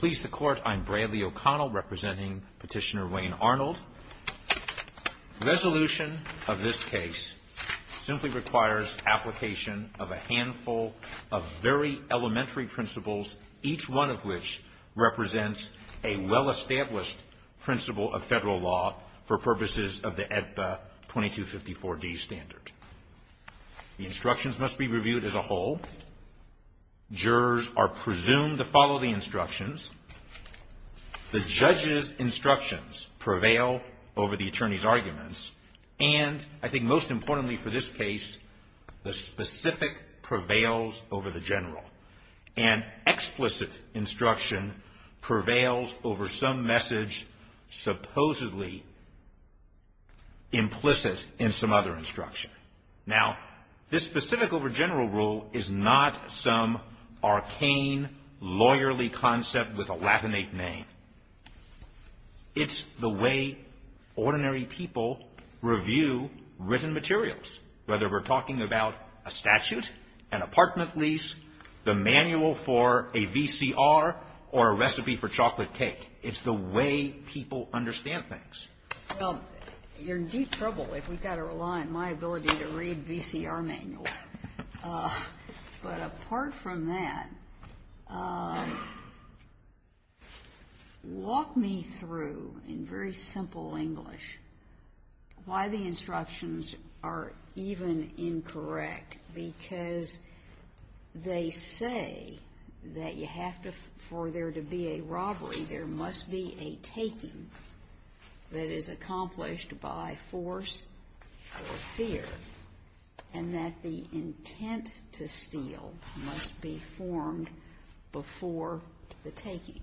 Please the court, I'm Bradley O'Connell representing Petitioner Wayne Arnold. Resolution of this case simply requires application of a handful of very elementary principles, each one of which represents a well-established principle of federal law for purposes of the jurors are presumed to follow the instructions, the judge's instructions prevail over the attorney's arguments, and I think most importantly for this case, the specific prevails over the general. And explicit instruction prevails over some message supposedly implicit in some other instruction. Now, this specific over general rule is not some arcane lawyerly concept with a Latinate name. It's the way ordinary people review written materials, whether we're talking about a statute, an apartment lease, the manual for a VCR, or a recipe for chocolate cake. It's the way people understand things. Well, you're in deep trouble if we've got to rely on my ability to read VCR manuals. But apart from that, walk me through in very simple English why the instructions are even incorrect, because they say that you have to, for there to be a robbery, there must be a taking that is accomplished by force or fear, and that the intent to steal must be formed before the taking.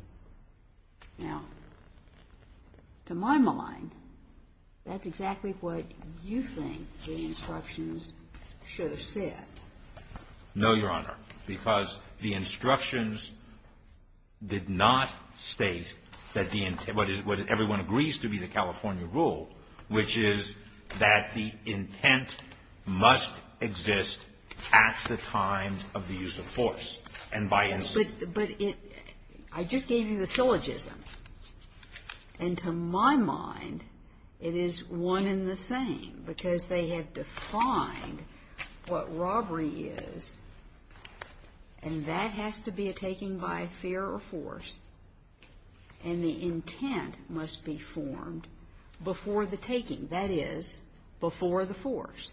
Now, to my mind, that's exactly what you think the instructions should have said. No, Your Honor, because the instructions did not state that the intent, what everyone agrees to be the California rule, which is that the intent must exist at the time of the use of force. And by instance ---- But I just gave you the syllogism. And to my mind, it is one and the same, because they have defined what robbery is, and that has to be a taking by fear or force, and the intent must be formed before the taking. That is, before the force.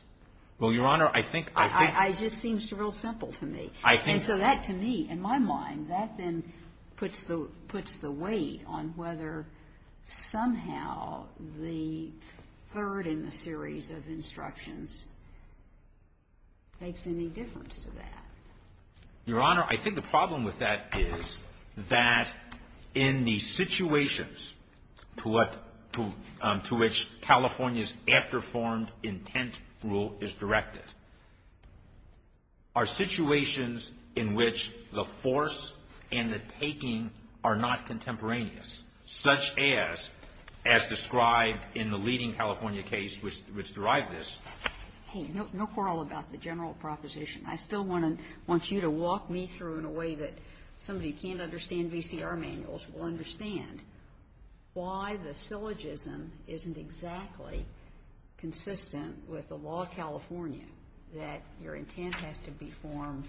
Well, Your Honor, I think ---- It just seems real simple to me. I think ---- Your Honor, I think the problem with that is that in the situations to which California's after-formed intent rule is directed are situations in which the force and the taking are not contemporaneous. Such as, as described in the leading California case which derived this ---- Hey, no quarrel about the general proposition. I still want you to walk me through in a way that somebody who can't understand VCR manuals will understand why the syllogism isn't exactly consistent with the law of California, that your intent has to be formed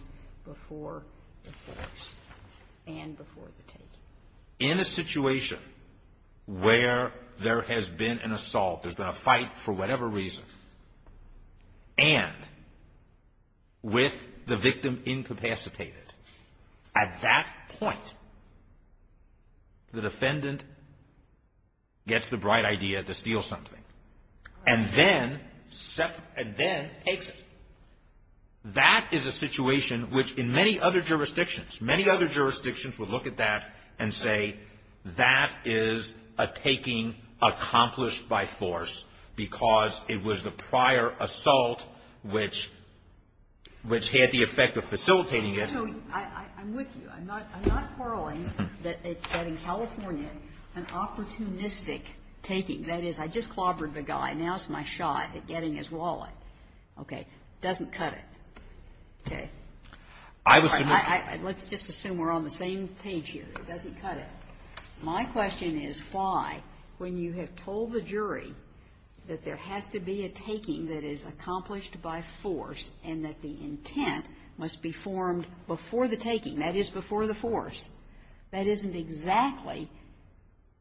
before the force and before the taking. In a situation where there has been an assault, there's been a fight for whatever reason, and with the victim incapacitated, at that point, the defendant gets the bright idea to steal something and then takes it. That is a situation which in many other jurisdictions, many other jurisdictions would look at that and say that is a taking accomplished by force because it was the prior assault which had the effect of facilitating it. So I'm with you. I'm not quarreling that in California an opportunistic taking, that is, I just clobbered the guy, now it's my shot at getting his wallet, okay, doesn't cut it. Okay. I was ---- Let's just assume we're on the same page here. It doesn't cut it. My question is why, when you have told the jury that there has to be a taking that is accomplished by force and that the intent must be formed before the taking, that is, before the force, that isn't exactly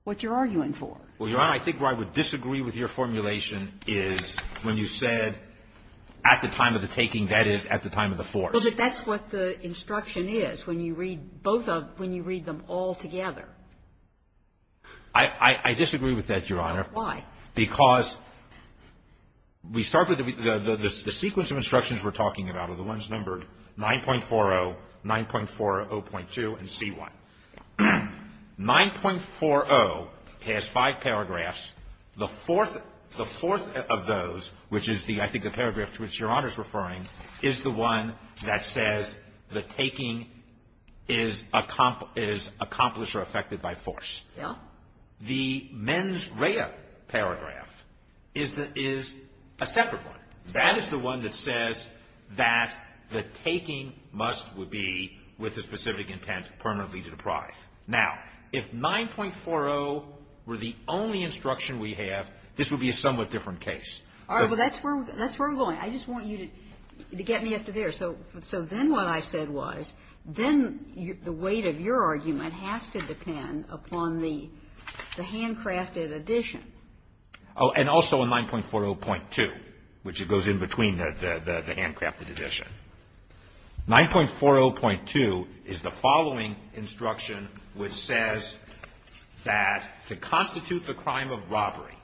what you're arguing for. Well, Your Honor, I think where I would disagree with your formulation is when you said at the time of the taking, that is, at the time of the force. Well, but that's what the instruction is when you read both of them, when you read them all together. I disagree with that, Your Honor. Why? Because we start with the sequence of instructions we're talking about are the ones numbered 9.40, 9.40.2, and C.1. 9.40 has five paragraphs. The fourth of those, which is the ---- I think the paragraph to which Your Honor is referring is the one that says the taking is accomplished or effected by force. Yes. The mens rea paragraph is a separate one. That is the one that says that the taking must be, with a specific intent, permanently deprived. Now, if 9.40 were the only instruction we have, this would be a somewhat different case. All right. Well, that's where we're going. I just want you to get me up to there. So then what I said was then the weight of your argument has to depend upon the handcrafted addition. Oh, and also in 9.40.2, which goes in between the handcrafted addition. 9.40.2 is the following instruction which says that to constitute the crime of robbery,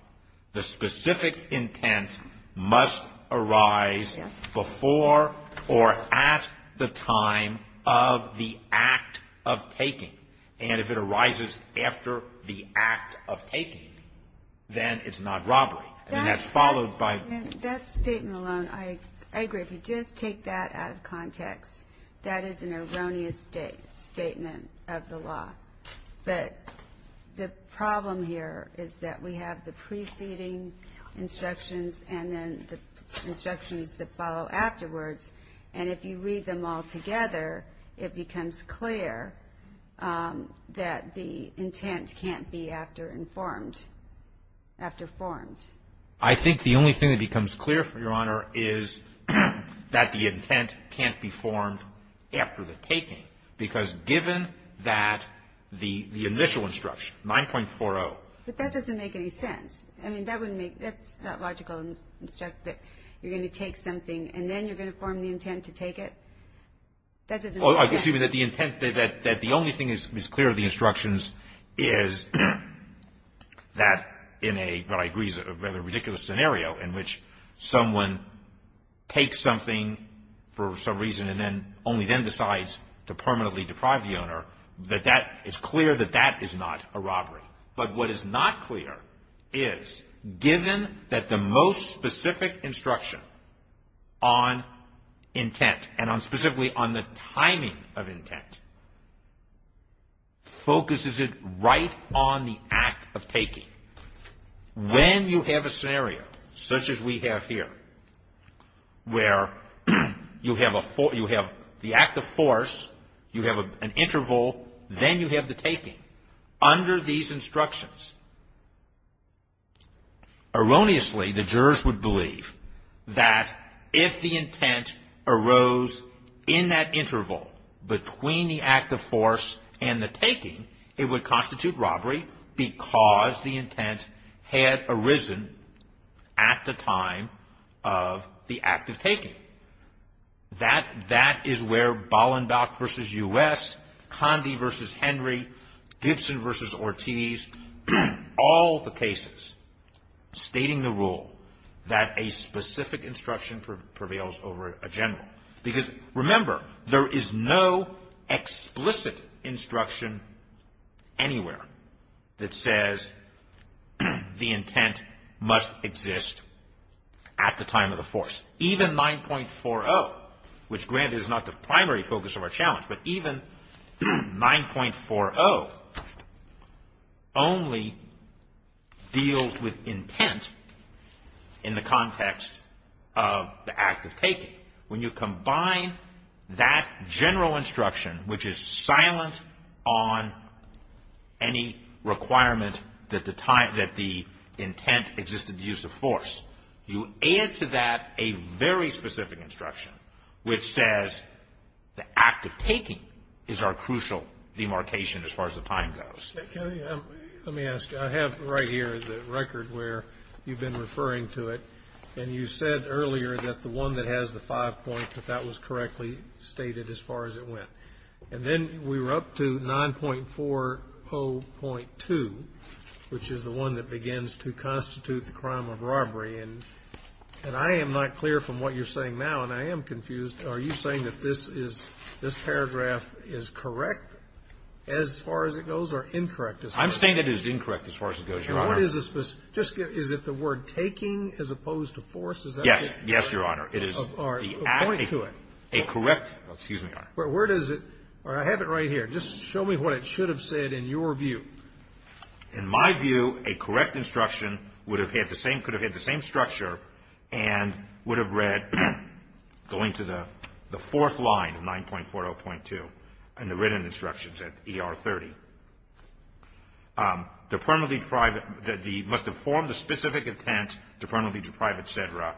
the specific intent must arise before or at the time of the act of taking. And if it arises after the act of taking, then it's not robbery. And that's followed by ---- That statement alone, I agree. If you just take that out of context, that is an erroneous statement of the law. But the problem here is that we have the preceding instructions and then the instructions that follow afterwards. And if you read them all together, it becomes clear that the intent can't be after informed, after formed. I think the only thing that becomes clear, Your Honor, is that the intent can't be formed after the taking. Because given that the initial instruction, 9.40 ---- But that doesn't make any sense. I mean, that wouldn't make ---- that's not logical to instruct that you're going to take something and then you're going to form the intent to take it. That doesn't make sense. Well, excuse me, that the intent, that the only thing that's clear in the instructions is that in a, what I agree is a rather ridiculous scenario in which someone takes something for some reason and then, only then decides to permanently deprive the owner, that that, it's clear that that is not a robbery. But what is not clear is, given that the most specific instruction on intent, and on specifically on the timing of intent, focuses it right on the act of taking. When you have a scenario, such as we have here, where you have a force, you have the act of force, you have an interval, then you have the taking. Under these instructions, erroneously, the jurors would believe that if the intent arose in that interval between the act of force and the taking, it would constitute robbery, because the intent had arisen at the time of the act of taking. That is where Ballendock versus U.S., Condi versus Henry, Gibson versus Ortiz, all the cases stating the rule that a specific instruction prevails over a general. Because remember, there is no explicit instruction anywhere that says the intent must exist at the time of the force. Even 9.40, which granted is not the primary focus of our challenge, but even 9.40 only deals with intent in the context of the act of taking. When you combine that general instruction, which is silent on any requirement that the intent existed to use the force, you add to that a very specific instruction, which says the act of taking is our crucial demarcation as far as the time goes. Mr. Kennedy, let me ask. I have right here the record where you've been referring to it, and you said earlier that the one that has the five points, if that was correctly stated as far as it went. And then we were up to 9.40.2, which is the one that begins to constitute the crime of robbery. And I am not clear from what you're saying now, and I am confused. Are you saying that this paragraph is correct as far as it goes or incorrect as far as it goes? I'm saying it is incorrect as far as it goes, Your Honor. And what is the specific – is it the word taking as opposed to force? Yes, Your Honor. Or a point to it. A correct – excuse me, Your Honor. Where does it – I have it right here. Just show me what it should have said in your view. In my view, a correct instruction would have had the same – could have had the same structure and would have read, going to the fourth line of 9.40.2 in the written instructions at ER 30, must have formed a specific intent to permanently deprive etc.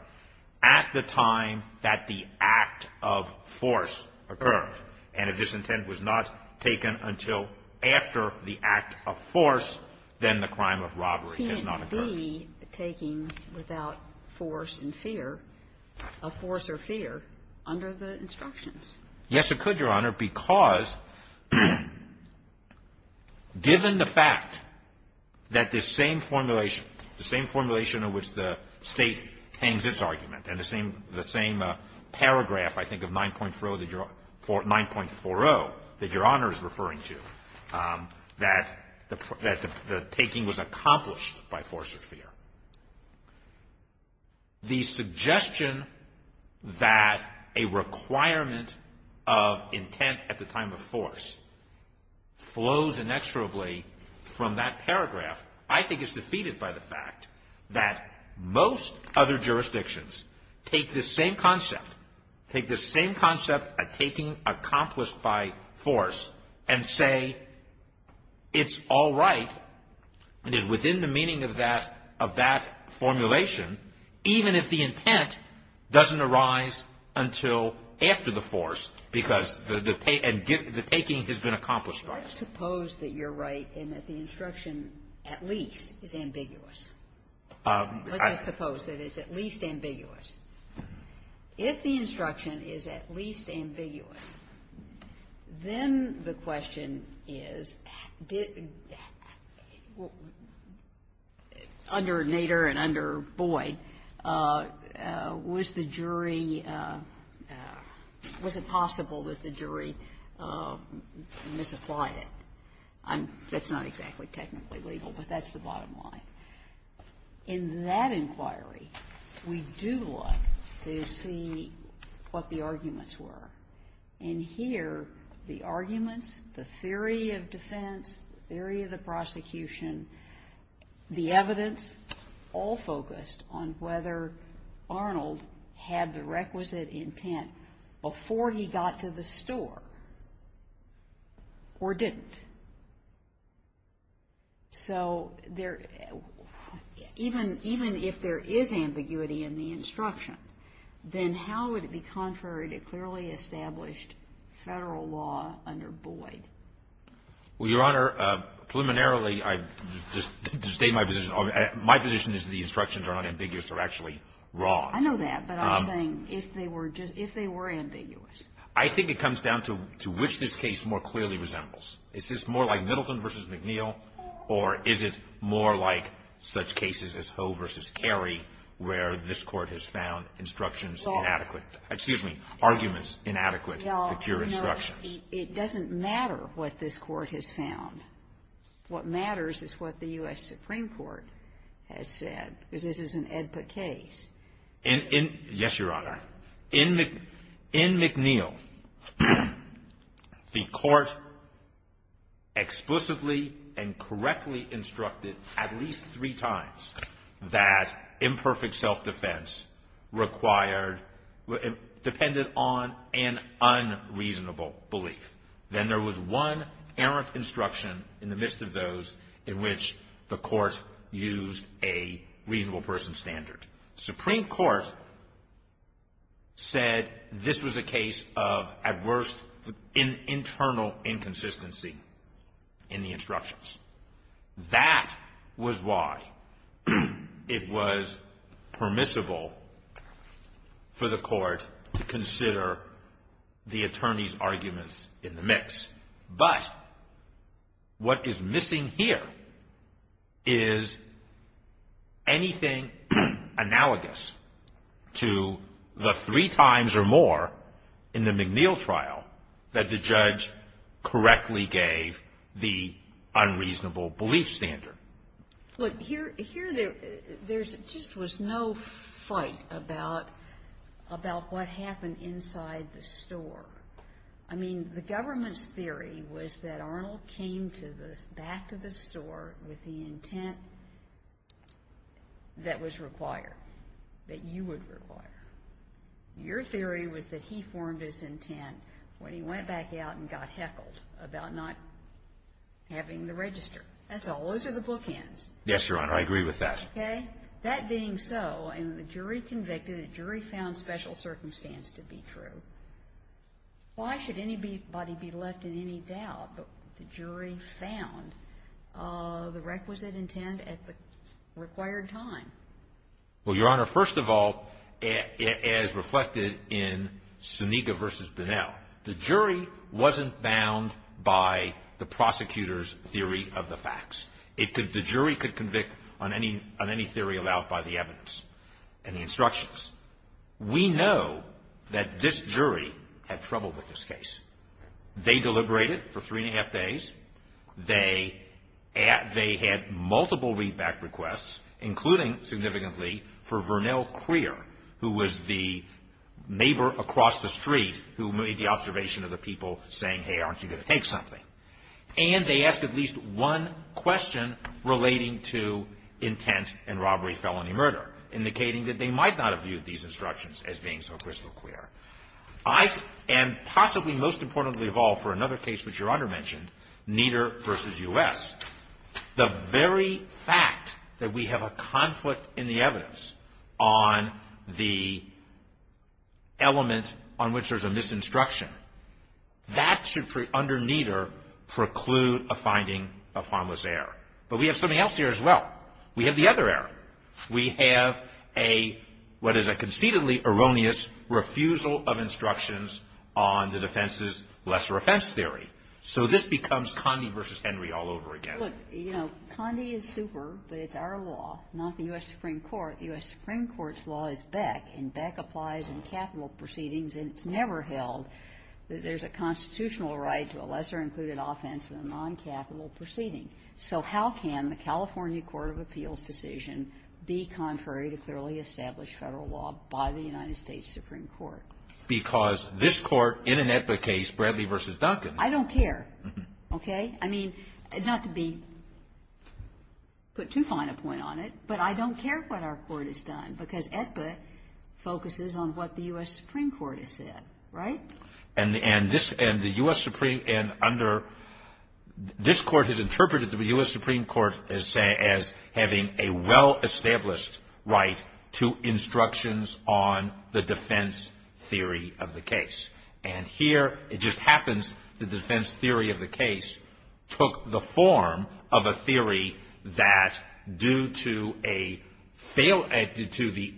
at the time that the act of force occurred. And if this intent was not taken until after the act of force, then the crime of robbery has not occurred. It can't be taking without force and fear, of force or fear, under the instructions. Yes, it could, Your Honor, because given the fact that this same formulation, the same formulation in which the State hangs its argument and the same paragraph, I think, of 9.40 that Your Honor is referring to, that the taking was accomplished by force or fear. The suggestion that a requirement of intent at the time of force flows inexorably from that paragraph, I think is defeated by the fact that most other jurisdictions take this same concept, take this same concept of taking accomplished by force and say it's all right and is within the meaning of that formulation, even if the intent doesn't arise until after the force because the taking has been accomplished by force. Let's suppose that you're right and that the instruction at least is ambiguous. Let's suppose that it's at least ambiguous. If the instruction is at least ambiguous, then the question is, did under Nader and under Boyd, was the jury, was it possible that the jury misapplied? That's not exactly technically legal, but that's the bottom line. In that inquiry, we do look to see what the arguments were. In here, the arguments, the theory of defense, the theory of the prosecution, the evidence, all focused on whether Arnold had the requisite intent before he got to the store or didn't. So even if there is ambiguity in the instruction, then how would it be contrary to clearly established Federal law under Boyd? Well, Your Honor, preliminarily, I just state my position. My position is the instructions are not ambiguous. They're actually wrong. I know that, but I'm saying if they were just – if they were ambiguous. I think it comes down to which this case more clearly resembles. Is this more like Middleton v. McNeil, or is it more like such cases as Hoe v. Carey where this Court has found instructions inadequate – excuse me, arguments inadequate to cure instructions? It doesn't matter what this Court has found. What matters is what the U.S. Supreme Court has said, because this is an EDPA case. Yes, Your Honor. In McNeil, the Court explicitly and correctly instructed at least three times that imperfect self-defense required depended on an unreasonable belief. Then there was one errant instruction in the midst of those in which the Court used a reasonable person standard. Supreme Court said this was a case of, at worst, internal inconsistency in the instructions. That was why it was permissible for the Court to consider the attorney's arguments in the mix. But what is missing here is anything analogous to the three times or more in the McNeil trial that the judge correctly gave the unreasonable belief standard. Look, here there just was no fight about what happened inside the store. I mean, the government's theory was that Arnold came back to the store with the intent that was required, that you would require. Your theory was that he formed his intent when he went back out and got heckled about not having the register. That's all. Those are the bookends. Yes, Your Honor. I agree with that. Okay. That being so, and the jury convicted, the jury found special circumstance to be true. Why should anybody be left in any doubt that the jury found the requisite intent at the required time? Well, Your Honor, first of all, as reflected in Suniga v. Bunnell, the jury wasn't bound by the prosecutor's theory of the facts. The jury could convict on any theory allowed by the evidence and the instructions. We know that this jury had trouble with this case. They deliberated for three and a half days. They had multiple read-back requests, including significantly for Vernell Crear, who was the neighbor across the street who made the observation of the people saying, hey, aren't you going to take something? And they asked at least one question relating to intent and robbery, felony, murder, indicating that they might not have viewed these instructions as being so crystal clear. And possibly most importantly of all for another case which Your Honor mentioned, Nieder v. U.S., the very fact that we have a conflict in the evidence on the element on which there's a misinstruction, that should, under Nieder, preclude a finding of harmless error. But we have something else here as well. We have the other error. We have a, what is a conceitedly erroneous refusal of instructions on the defense's lesser offense theory. So this becomes Condi v. Henry all over again. Look, you know, Condi is super, but it's our law, not the U.S. Supreme Court. The U.S. Supreme Court's law is Beck, and Beck applies in capital proceedings, and it's never held that there's a constitutional right to a lesser included offense in a non-capital proceeding. So how can the California court of appeals decision be contrary to clearly established Federal law by the United States Supreme Court? Because this Court in an Aetba case, Bradley v. Duncan. I don't care. Okay? I mean, not to be put too fine a point on it, but I don't care what our Court has done, because Aetba focuses on what the U.S. Supreme Court has said. Right? And this, and the U.S. Supreme, and under, this Court has interpreted the U.S. Supreme Court as saying, as having a well-established right to instructions on the defense theory of the case. And here it just happens the defense theory of the case took the form of a theory that due to a failure due to the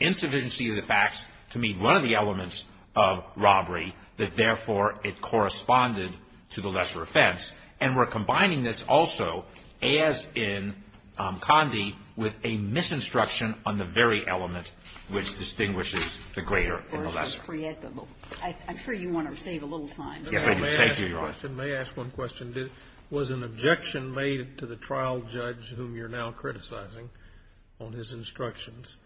insufficiency of the facts to meet one of the elements of robbery, that, therefore, it corresponded to the lesser offense. And we're combining this also, as in Condie, with a misinstruction on the very element which distinguishes the greater and the lesser. I'm sure you want to save a little time. Thank you, Your Honor. May I ask one question? Was an objection made to the trial judge, whom you're now criticizing, on his instructions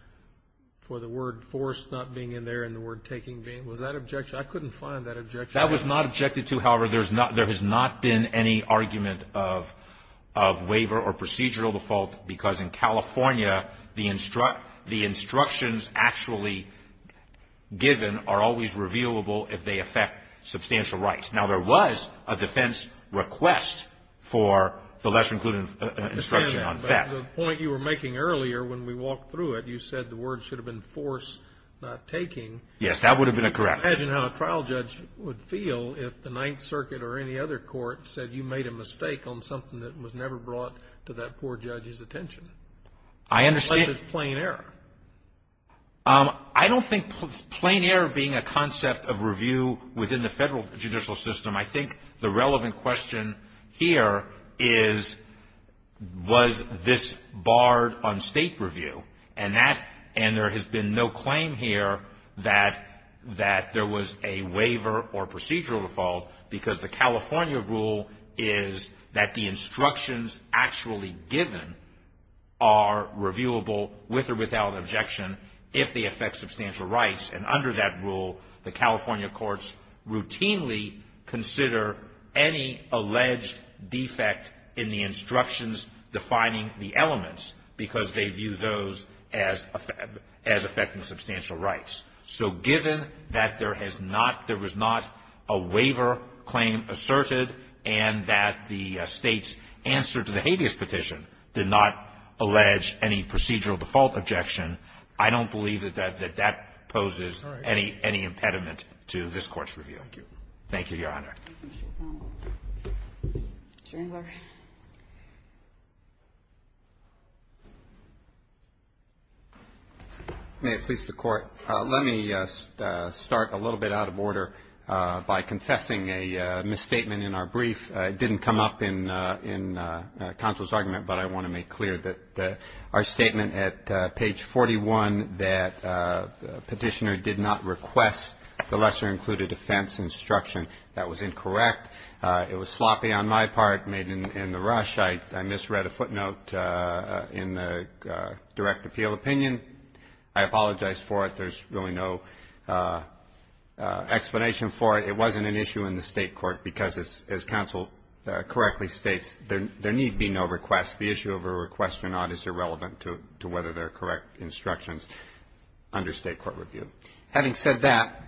for the word force not being in there and the word taking? Was that objection? I couldn't find that objection. That was not objected to. However, there has not been any argument of waiver or procedural default, because in California, the instructions actually given are always revealable if they affect substantial rights. Now, there was a defense request for the lesser-included instruction on theft. I understand that, but the point you were making earlier when we walked through it, you said the word should have been force not taking. Yes, that would have been correct. Imagine how a trial judge would feel if the Ninth Circuit or any other court said you made a mistake on something that was never brought to that poor judge's attention. I understand. Such as plain error. I don't think plain error being a concept of review within the federal judicial system. I think the relevant question here is, was this barred on state review? And there has been no claim here that there was a waiver or procedural default, because the California rule is that the instructions actually given are reviewable, with or without objection, if they affect substantial rights. And under that rule, the California courts routinely consider any alleged defect in the instructions defining the elements, because they view those as affecting substantial rights. So given that there has not, there was not a waiver claim asserted, and that the State's answer to the habeas petition did not allege any procedural default objection, I don't believe that that poses any impediment to this Court's review. Thank you. Thank you, Your Honor. Thank you, Mr. O'Connell. Mr. Engler. May it please the Court. Let me start a little bit out of order by confessing a misstatement in our brief. It didn't come up in counsel's argument, but I want to make clear that our statement at page 41, that petitioner did not request the lesser-included defense instruction. That was incorrect. It was sloppy on my part, made in the rush. I misread a footnote in the direct appeal opinion. I apologize for it. There's really no explanation for it. It wasn't an issue in the State court, because as counsel correctly states, there need be no requests. The issue of a request or not is irrelevant to whether they're correct instructions under State court review. Having said that,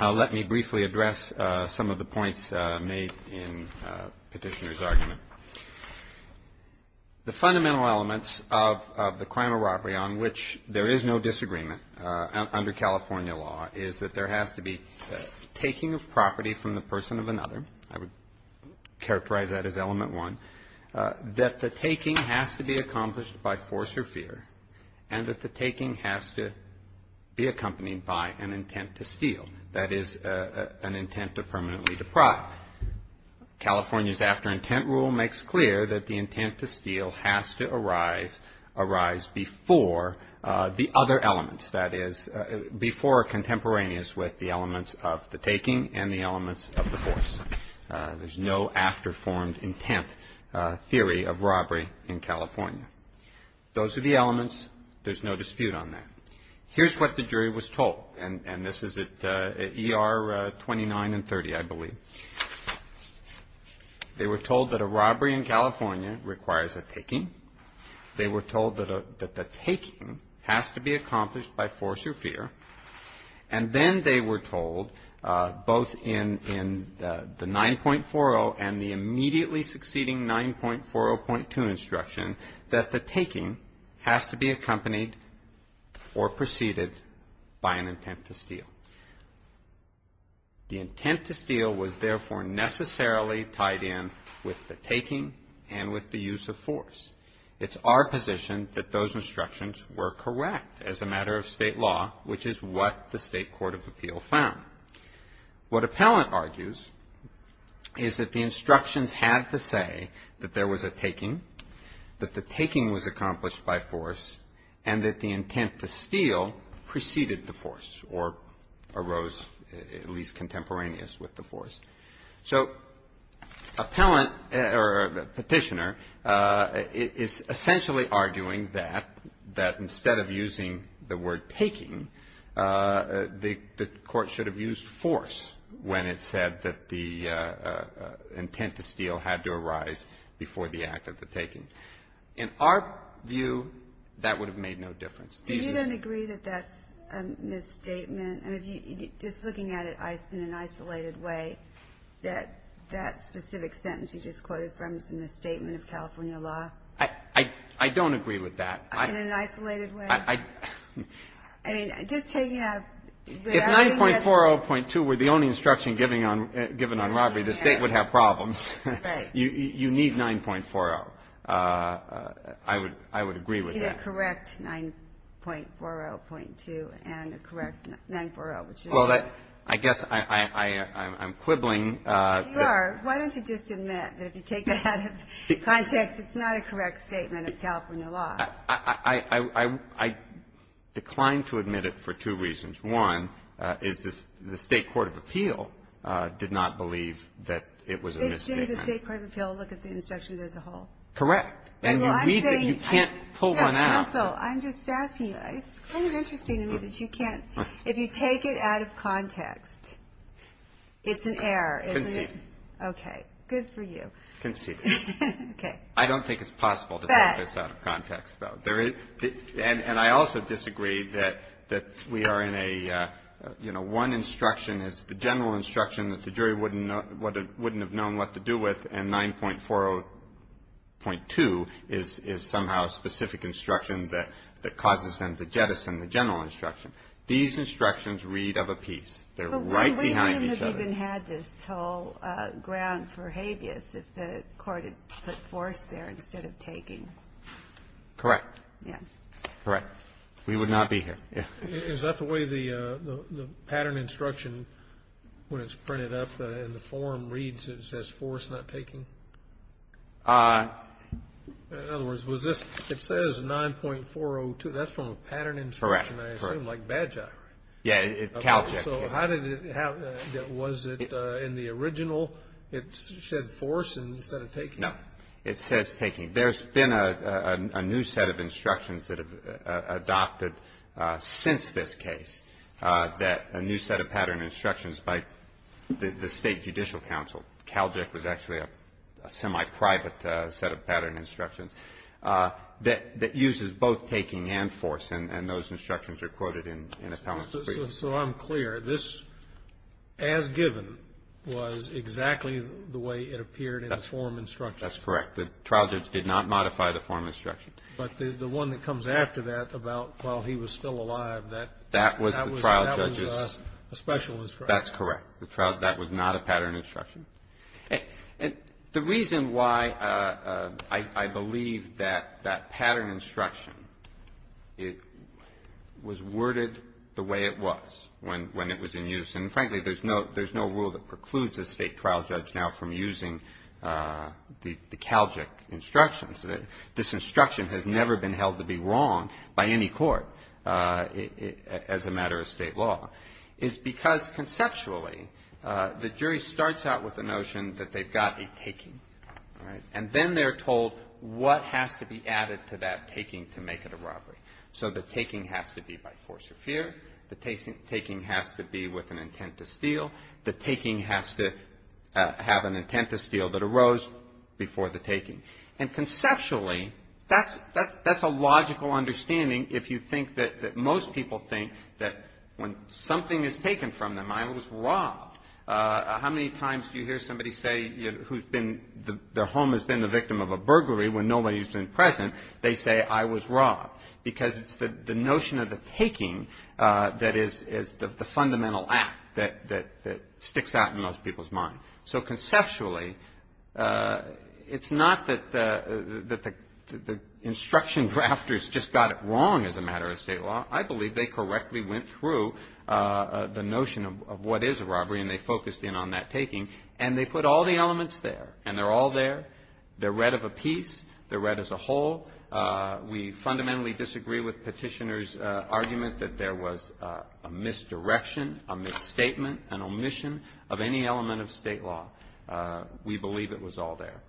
let me briefly address some of the points made in petitioner's argument. The fundamental elements of the crime of robbery on which there is no disagreement under California law is that there has to be taking of property from the person of another. I would characterize that as element one. That the taking has to be accomplished by force or fear, and that the taking has to be accompanied by an intent to steal. That is an intent to permanently deprive. California's after-intent rule makes clear that the intent to steal has to arise before the other elements, that is before contemporaneous with the elements of the taking and the elements of the force. There's no after-formed intent theory of robbery in California. Those are the elements. There's no dispute on that. Here's what the jury was told, and this is at ER 29 and 30, I believe. They were told that a robbery in California requires a taking. They were told that the taking has to be accomplished by force or fear. And then they were told, both in the 9.40 and the immediately succeeding 9.40.2 instruction, that the taking has to be accompanied or preceded by an intent to steal. The intent to steal was, therefore, necessarily tied in with the taking and with the use of force. It's our position that those instructions were correct as a matter of state law, which is what the State Court of Appeal found. What Appellant argues is that the instructions had to say that there was a taking, that the taking was accomplished by force, and that the intent to steal preceded the force or arose at least contemporaneous with the force. So Appellant or Petitioner is essentially arguing that, that instead of using the word taking, the Court should have used force when it said that the intent to steal had to arise before the act of the taking. In our view, that would have made no difference. Do you then agree that that's a misstatement? Just looking at it in an isolated way, that that specific sentence you just quoted from is a misstatement of California law? I don't agree with that. In an isolated way? If 9.40.2 were the only instruction given on robbery, the State would have problems. You need 9.40. I would agree with that. You're taking a correct 9.40.2 and a correct 9.40. Well, I guess I'm quibbling. You are. Why don't you just admit that if you take that out of context, it's not a correct statement of California law? I decline to admit it for two reasons. One is the State Court of Appeal did not believe that it was a misstatement. Did the State Court of Appeal look at the instructions as a whole? Correct. And you can't pull one out. Counsel, I'm just asking you. It's kind of interesting to me that you can't. If you take it out of context, it's an error, isn't it? Conceded. Okay. Good for you. Conceded. Okay. I don't think it's possible to take this out of context, though. And I also disagree that we are in a, you know, one instruction is the general instruction that the jury wouldn't have known what to do with, and 9.40.2 is somehow a specific instruction that causes them to jettison the general instruction. These instructions read of a piece. They're right behind each other. But we wouldn't have even had this whole ground for habeas if the court had put force there instead of taking. Correct. Yeah. Correct. We would not be here. Is that the way the pattern instruction, when it's printed up in the form, reads? It says force not taking? In other words, was this – it says 9.402. That's from a pattern instruction, I assume, like Bagi. Yeah. So how did it – was it in the original? It said force instead of taking. No. It says taking. There's been a new set of instructions that have adopted since this case that – a new set of pattern instructions by the State Judicial Council. CALJIC was actually a semi-private set of pattern instructions that uses both taking and force. And those instructions are quoted in Appellant Supreme. So I'm clear. This, as given, was exactly the way it appeared in the form instruction. That's correct. The trial judge did not modify the form instruction. But the one that comes after that about while he was still alive, that was a special instruction. That's correct. That was not a pattern instruction. The reason why I believe that that pattern instruction, it was worded the way it was when it was in use. And, frankly, there's no rule that precludes a State trial judge now from using the CALJIC instructions. This instruction has never been held to be wrong by any court as a matter of State law. It's because, conceptually, the jury starts out with the notion that they've got a taking. And then they're told what has to be added to that taking to make it a robbery. So the taking has to be by force or fear. The taking has to be with an intent to steal. The taking has to have an intent to steal that arose before the taking. And, conceptually, that's a logical understanding if you think that most people think that when something is taken from them, I was robbed. How many times do you hear somebody say their home has been the victim of a burglary when nobody's been present? They say, I was robbed. Because it's the notion of the taking that is the fundamental act that sticks out in most people's mind. So, conceptually, it's not that the instruction drafters just got it wrong as a matter of State law. I believe they correctly went through the notion of what is a robbery, and they focused in on that taking. And they put all the elements there. And they're all there. They're read of a piece. They're read as a whole. We fundamentally disagree with Petitioner's argument that there was a misdirection, a misstatement, an omission of any element of State law. We believe it was all there.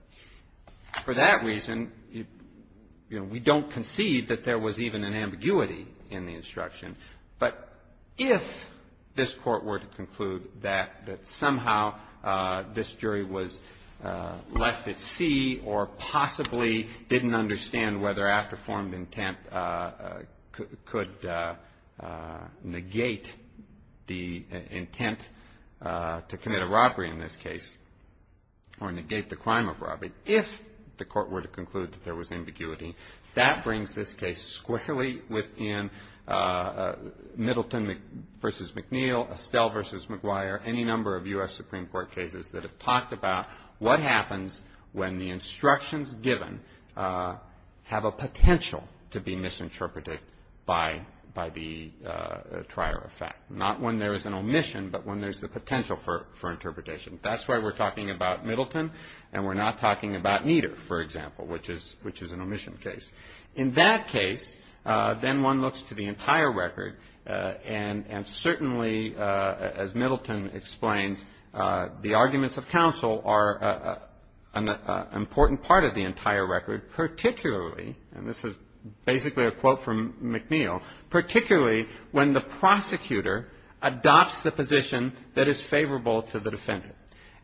For that reason, you know, we don't concede that there was even an ambiguity in the instruction. But if this Court were to conclude that somehow this jury was left at sea or possibly didn't understand whether after formed intent could negate the intent to commit a robbery in this case or negate the crime of robbery, if the Court were to conclude that there was ambiguity, that brings this case squarely within Middleton v. McNeil, Estelle v. McGuire, any number of U.S. Supreme Court cases that have talked about what happens when the instructions given have a potential to be misinterpreted by the trier of fact. Not when there is an omission, but when there's a potential for interpretation. That's why we're talking about Middleton. And we're not talking about Nieder, for example, which is an omission case. In that case, then one looks to the entire record. And certainly, as Middleton explains, the arguments of counsel are an important part of the entire record, particularly, and this is basically a quote from McNeil, particularly when the prosecutor adopts the position that is favorable to the defendant.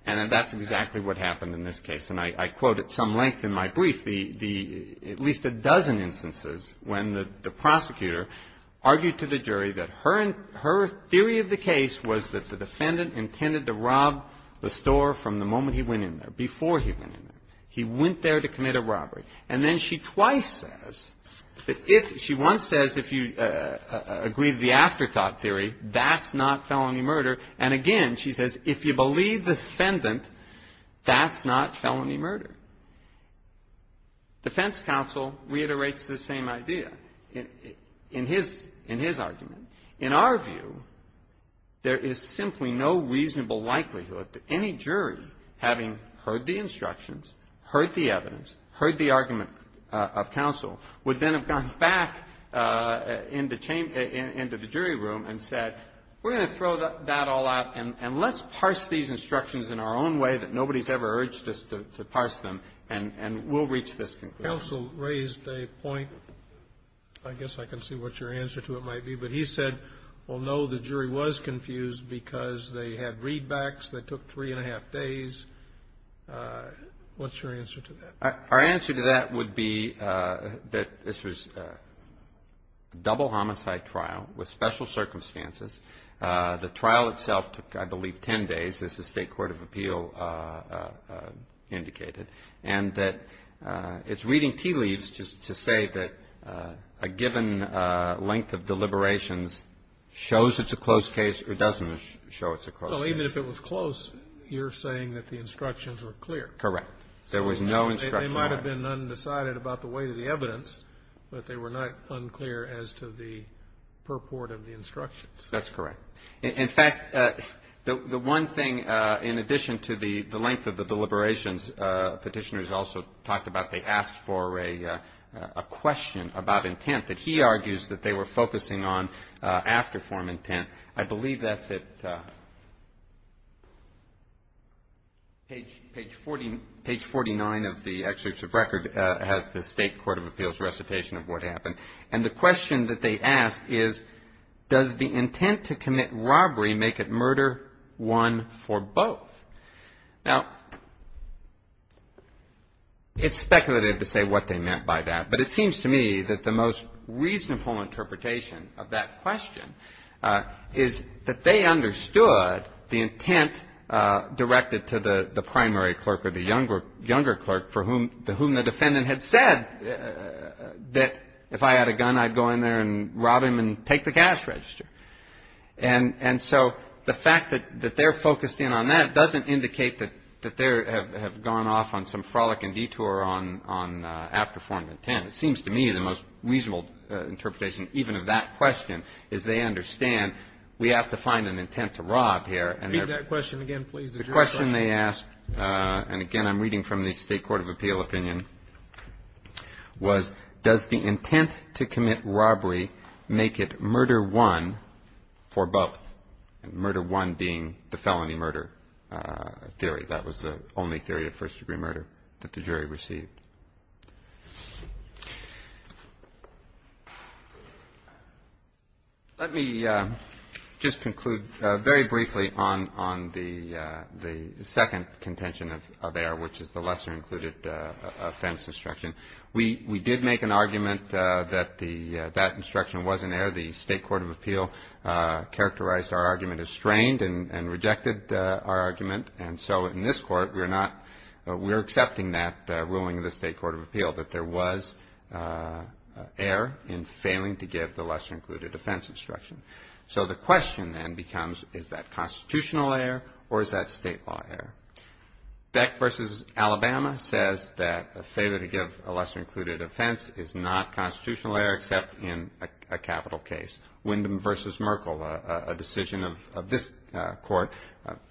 And that's exactly what happened in this case. And I quote at some length in my brief the at least a dozen instances when the prosecutor argued to the jury that her theory of the case was that the defendant intended to rob the store from the moment he went in there, before he went in there. He went there to commit a robbery. And then she twice says that if she once says if you agree to the afterthought theory, that's not felony murder. And again, she says if you believe the defendant, that's not felony murder. Defense counsel reiterates this same idea in his argument. In our view, there is simply no reasonable likelihood that any jury, having heard the instructions, heard the evidence, heard the argument of counsel, would then have gone back into the jury room and said, we're going to throw that all out, and let's parse these instructions in our own way that nobody's ever urged us to parse them, and we'll reach this conclusion. Counsel raised a point. I guess I can see what your answer to it might be, but he said, well, no, the jury was confused because they had readbacks that took three and a half days. What's your answer to that? Our answer to that would be that this was a double homicide trial with special circumstances. The trial itself took, I believe, 10 days, as the State Court of Appeal indicated, and that it's reading tea leaves to say that a given length of deliberations shows it's a close case or doesn't show it's a close case. Well, even if it was close, you're saying that the instructions were clear. Correct. There was no instruction. They might have been undecided about the weight of the evidence, but they were not unclear as to the purport of the instructions. That's correct. In fact, the one thing, in addition to the length of the deliberations, Petitioner has also talked about, they asked for a question about intent that he argues that they were focusing on after form intent. I believe that's at page 49 of the executive record as the State Court of Appeal's recitation of what happened. And the question that they ask is, does the intent to commit robbery make it murder one for both? Now, it's speculative to say what they meant by that, but it seems to me that the most reasonable interpretation, even of that question, is they understand the intent directed to the primary clerk or the younger clerk for whom the defendant had said that if I had a gun, I'd go in there and rob him and take the cash register. And so the fact that they're focused in on that doesn't indicate that they have gone off on some frolic and detour on after form intent. And again, it seems to me the most reasonable interpretation, even of that question, is they understand we have to find an intent to rob here. And the question they ask, and again, I'm reading from the State Court of Appeal opinion, was does the intent to commit robbery make it murder one for both? And murder one being the felony murder theory. That was the only theory of first-degree murder that the jury received. Let me just conclude very briefly on the second contention of error, which is the lesser included offense instruction. We did make an argument that that instruction was in error. The State Court of Appeal characterized our argument as strained and rejected our argument. And so in this court, we're accepting that ruling of the State Court of Appeal, that there was error in failing to give the lesser included offense instruction. So the question then becomes, is that constitutional error or is that state law error? Beck v. Alabama says that a failure to give a lesser included offense is not constitutional error except in a capital case. Wyndham v. Merkle, a decision of this court,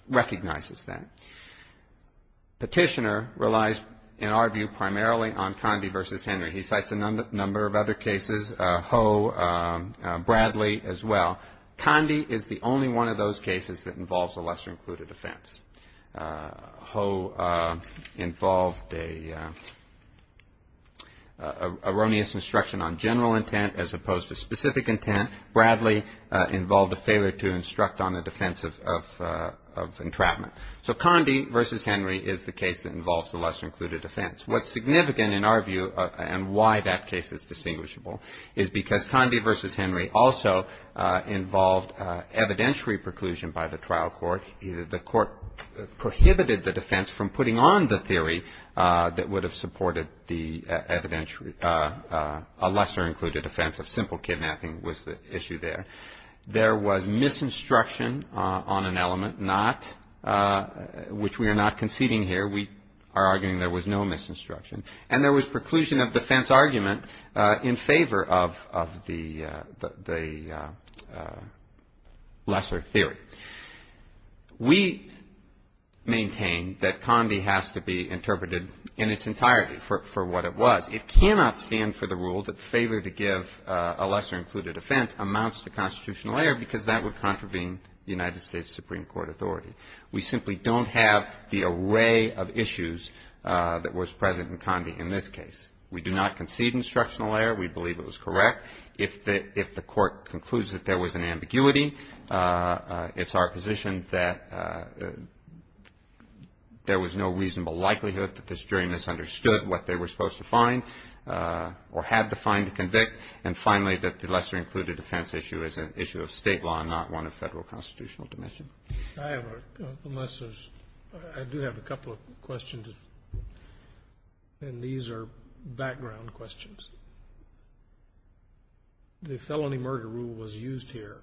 recognizes that. Petitioner relies, in our view, primarily on Condie v. Henry. He cites a number of other cases, Ho, Bradley as well. Condie is the only one of those cases that involves a lesser included offense. Ho involved an erroneous instruction on general intent as opposed to specific intent. Bradley involved a failure to instruct on the defense of entrapment. So Condie v. Henry is the case that involves the lesser included offense. What's significant in our view and why that case is distinguishable is because Condie v. Henry also involved evidentiary preclusion by the trial court. The court prohibited the defense from putting on the theory that would have supported the evidentiary, a lesser included offense of simple kidnapping was the issue there. There was misinstruction on an element not, which we are not conceding here. We are arguing there was no misinstruction. And there was preclusion of defense argument in favor of the lesser theory. We maintain that Condie has to be interpreted in its entirety for what it was. It cannot stand for the rule that failure to give a lesser included offense amounts to constitutional error because that would contravene the United States Supreme Court authority. We simply don't have the array of issues that was present in Condie in this case. We do not concede instructional error. We believe it was correct. If the court concludes that there was an ambiguity, it's our position that there was no reasonable likelihood that this jury misunderstood what they were supposed to find or had to find to convict. And finally, that the lesser included offense issue is an issue of state law and not one of federal constitutional dimension. I do have a couple of questions, and these are background questions. The felony murder rule was used here,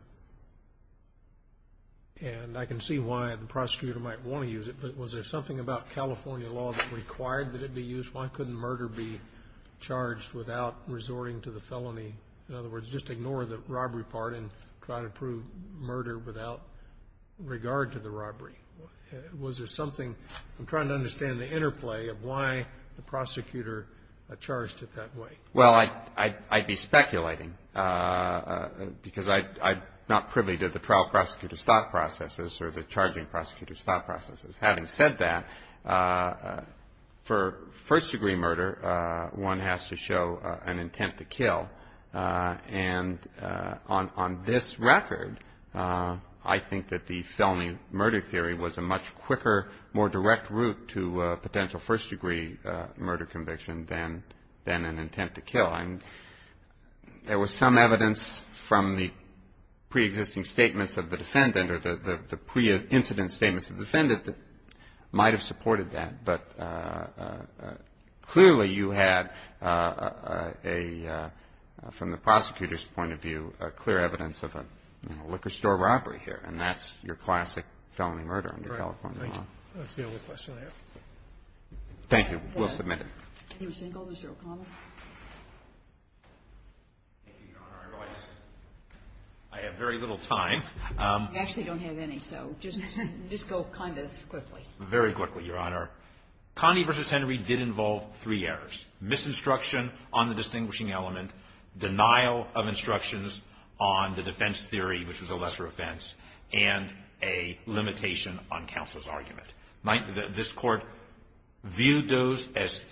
and I can see why the prosecutor might want to use it, but was there something about California law that required that it be used? Why couldn't murder be charged without resorting to the felony? In other words, just ignore the robbery part and try to prove murder without regard to the robbery. Was there something? I'm trying to understand the interplay of why the prosecutor charged it that way. Well, I'd be speculating because I'm not privy to the trial prosecutor's thought processes or the charging prosecutor's thought processes. Having said that, for first-degree murder, one has to show an intent to kill. And on this record, I think that the felony murder theory was a much quicker, more direct route to a potential first-degree murder conviction than an intent to kill. There was some evidence from the preexisting statements of the defendant or the pre-incident statements of the defendant that might have supported that. But clearly you had a, from the prosecutor's point of view, a clear evidence of a liquor store robbery here, and that's your classic felony murder under California law. That's the only question I have. Thank you. We'll submit it. Are you single, Mr. O'Connell? Thank you, Your Honor. I realize I have very little time. You actually don't have any, so just go kind of quickly. Very quickly, Your Honor. Connie v. Henry did involve three errors, misinstruction on the distinguishing element, denial of instructions on the defense and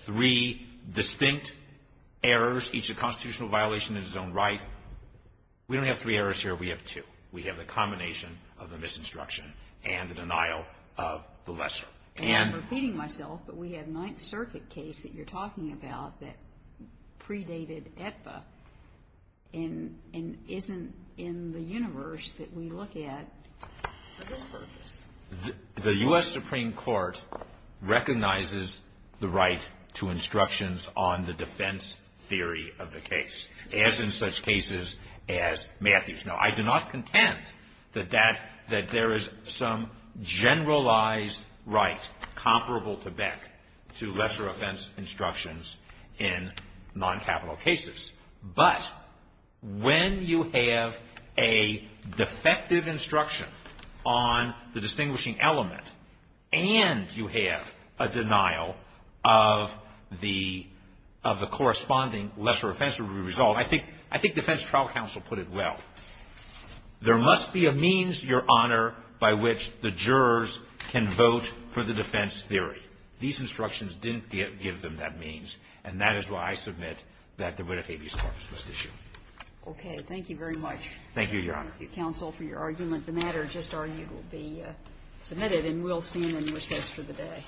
three distinct errors, each a constitutional violation in its own right. We don't have three errors here. We have two. We have the combination of the misinstruction and the denial of the lesser. And I'm repeating myself, but we had a Ninth Circuit case that you're talking about that predated AEDPA and isn't in the universe that we look at for this purpose. The U.S. Supreme Court recognizes the right to instructions on the defense theory of the case, as in such cases as Matthews. Now, I do not contend that there is some generalized right comparable to Beck to lesser offense instructions in noncapital cases. But when you have a defective instruction on the distinguishing element and you have a denial of the corresponding lesser offense, I think defense trial counsel put it well. There must be a means, Your Honor, by which the jurors can vote for the defense theory. These instructions didn't give them that means, and that is why I submit that there would have been a misinstruction. Okay. Thank you very much. Thank you, Your Honor. Thank you, counsel, for your argument. The matter just argued will be submitted and we'll stand in recess for the day.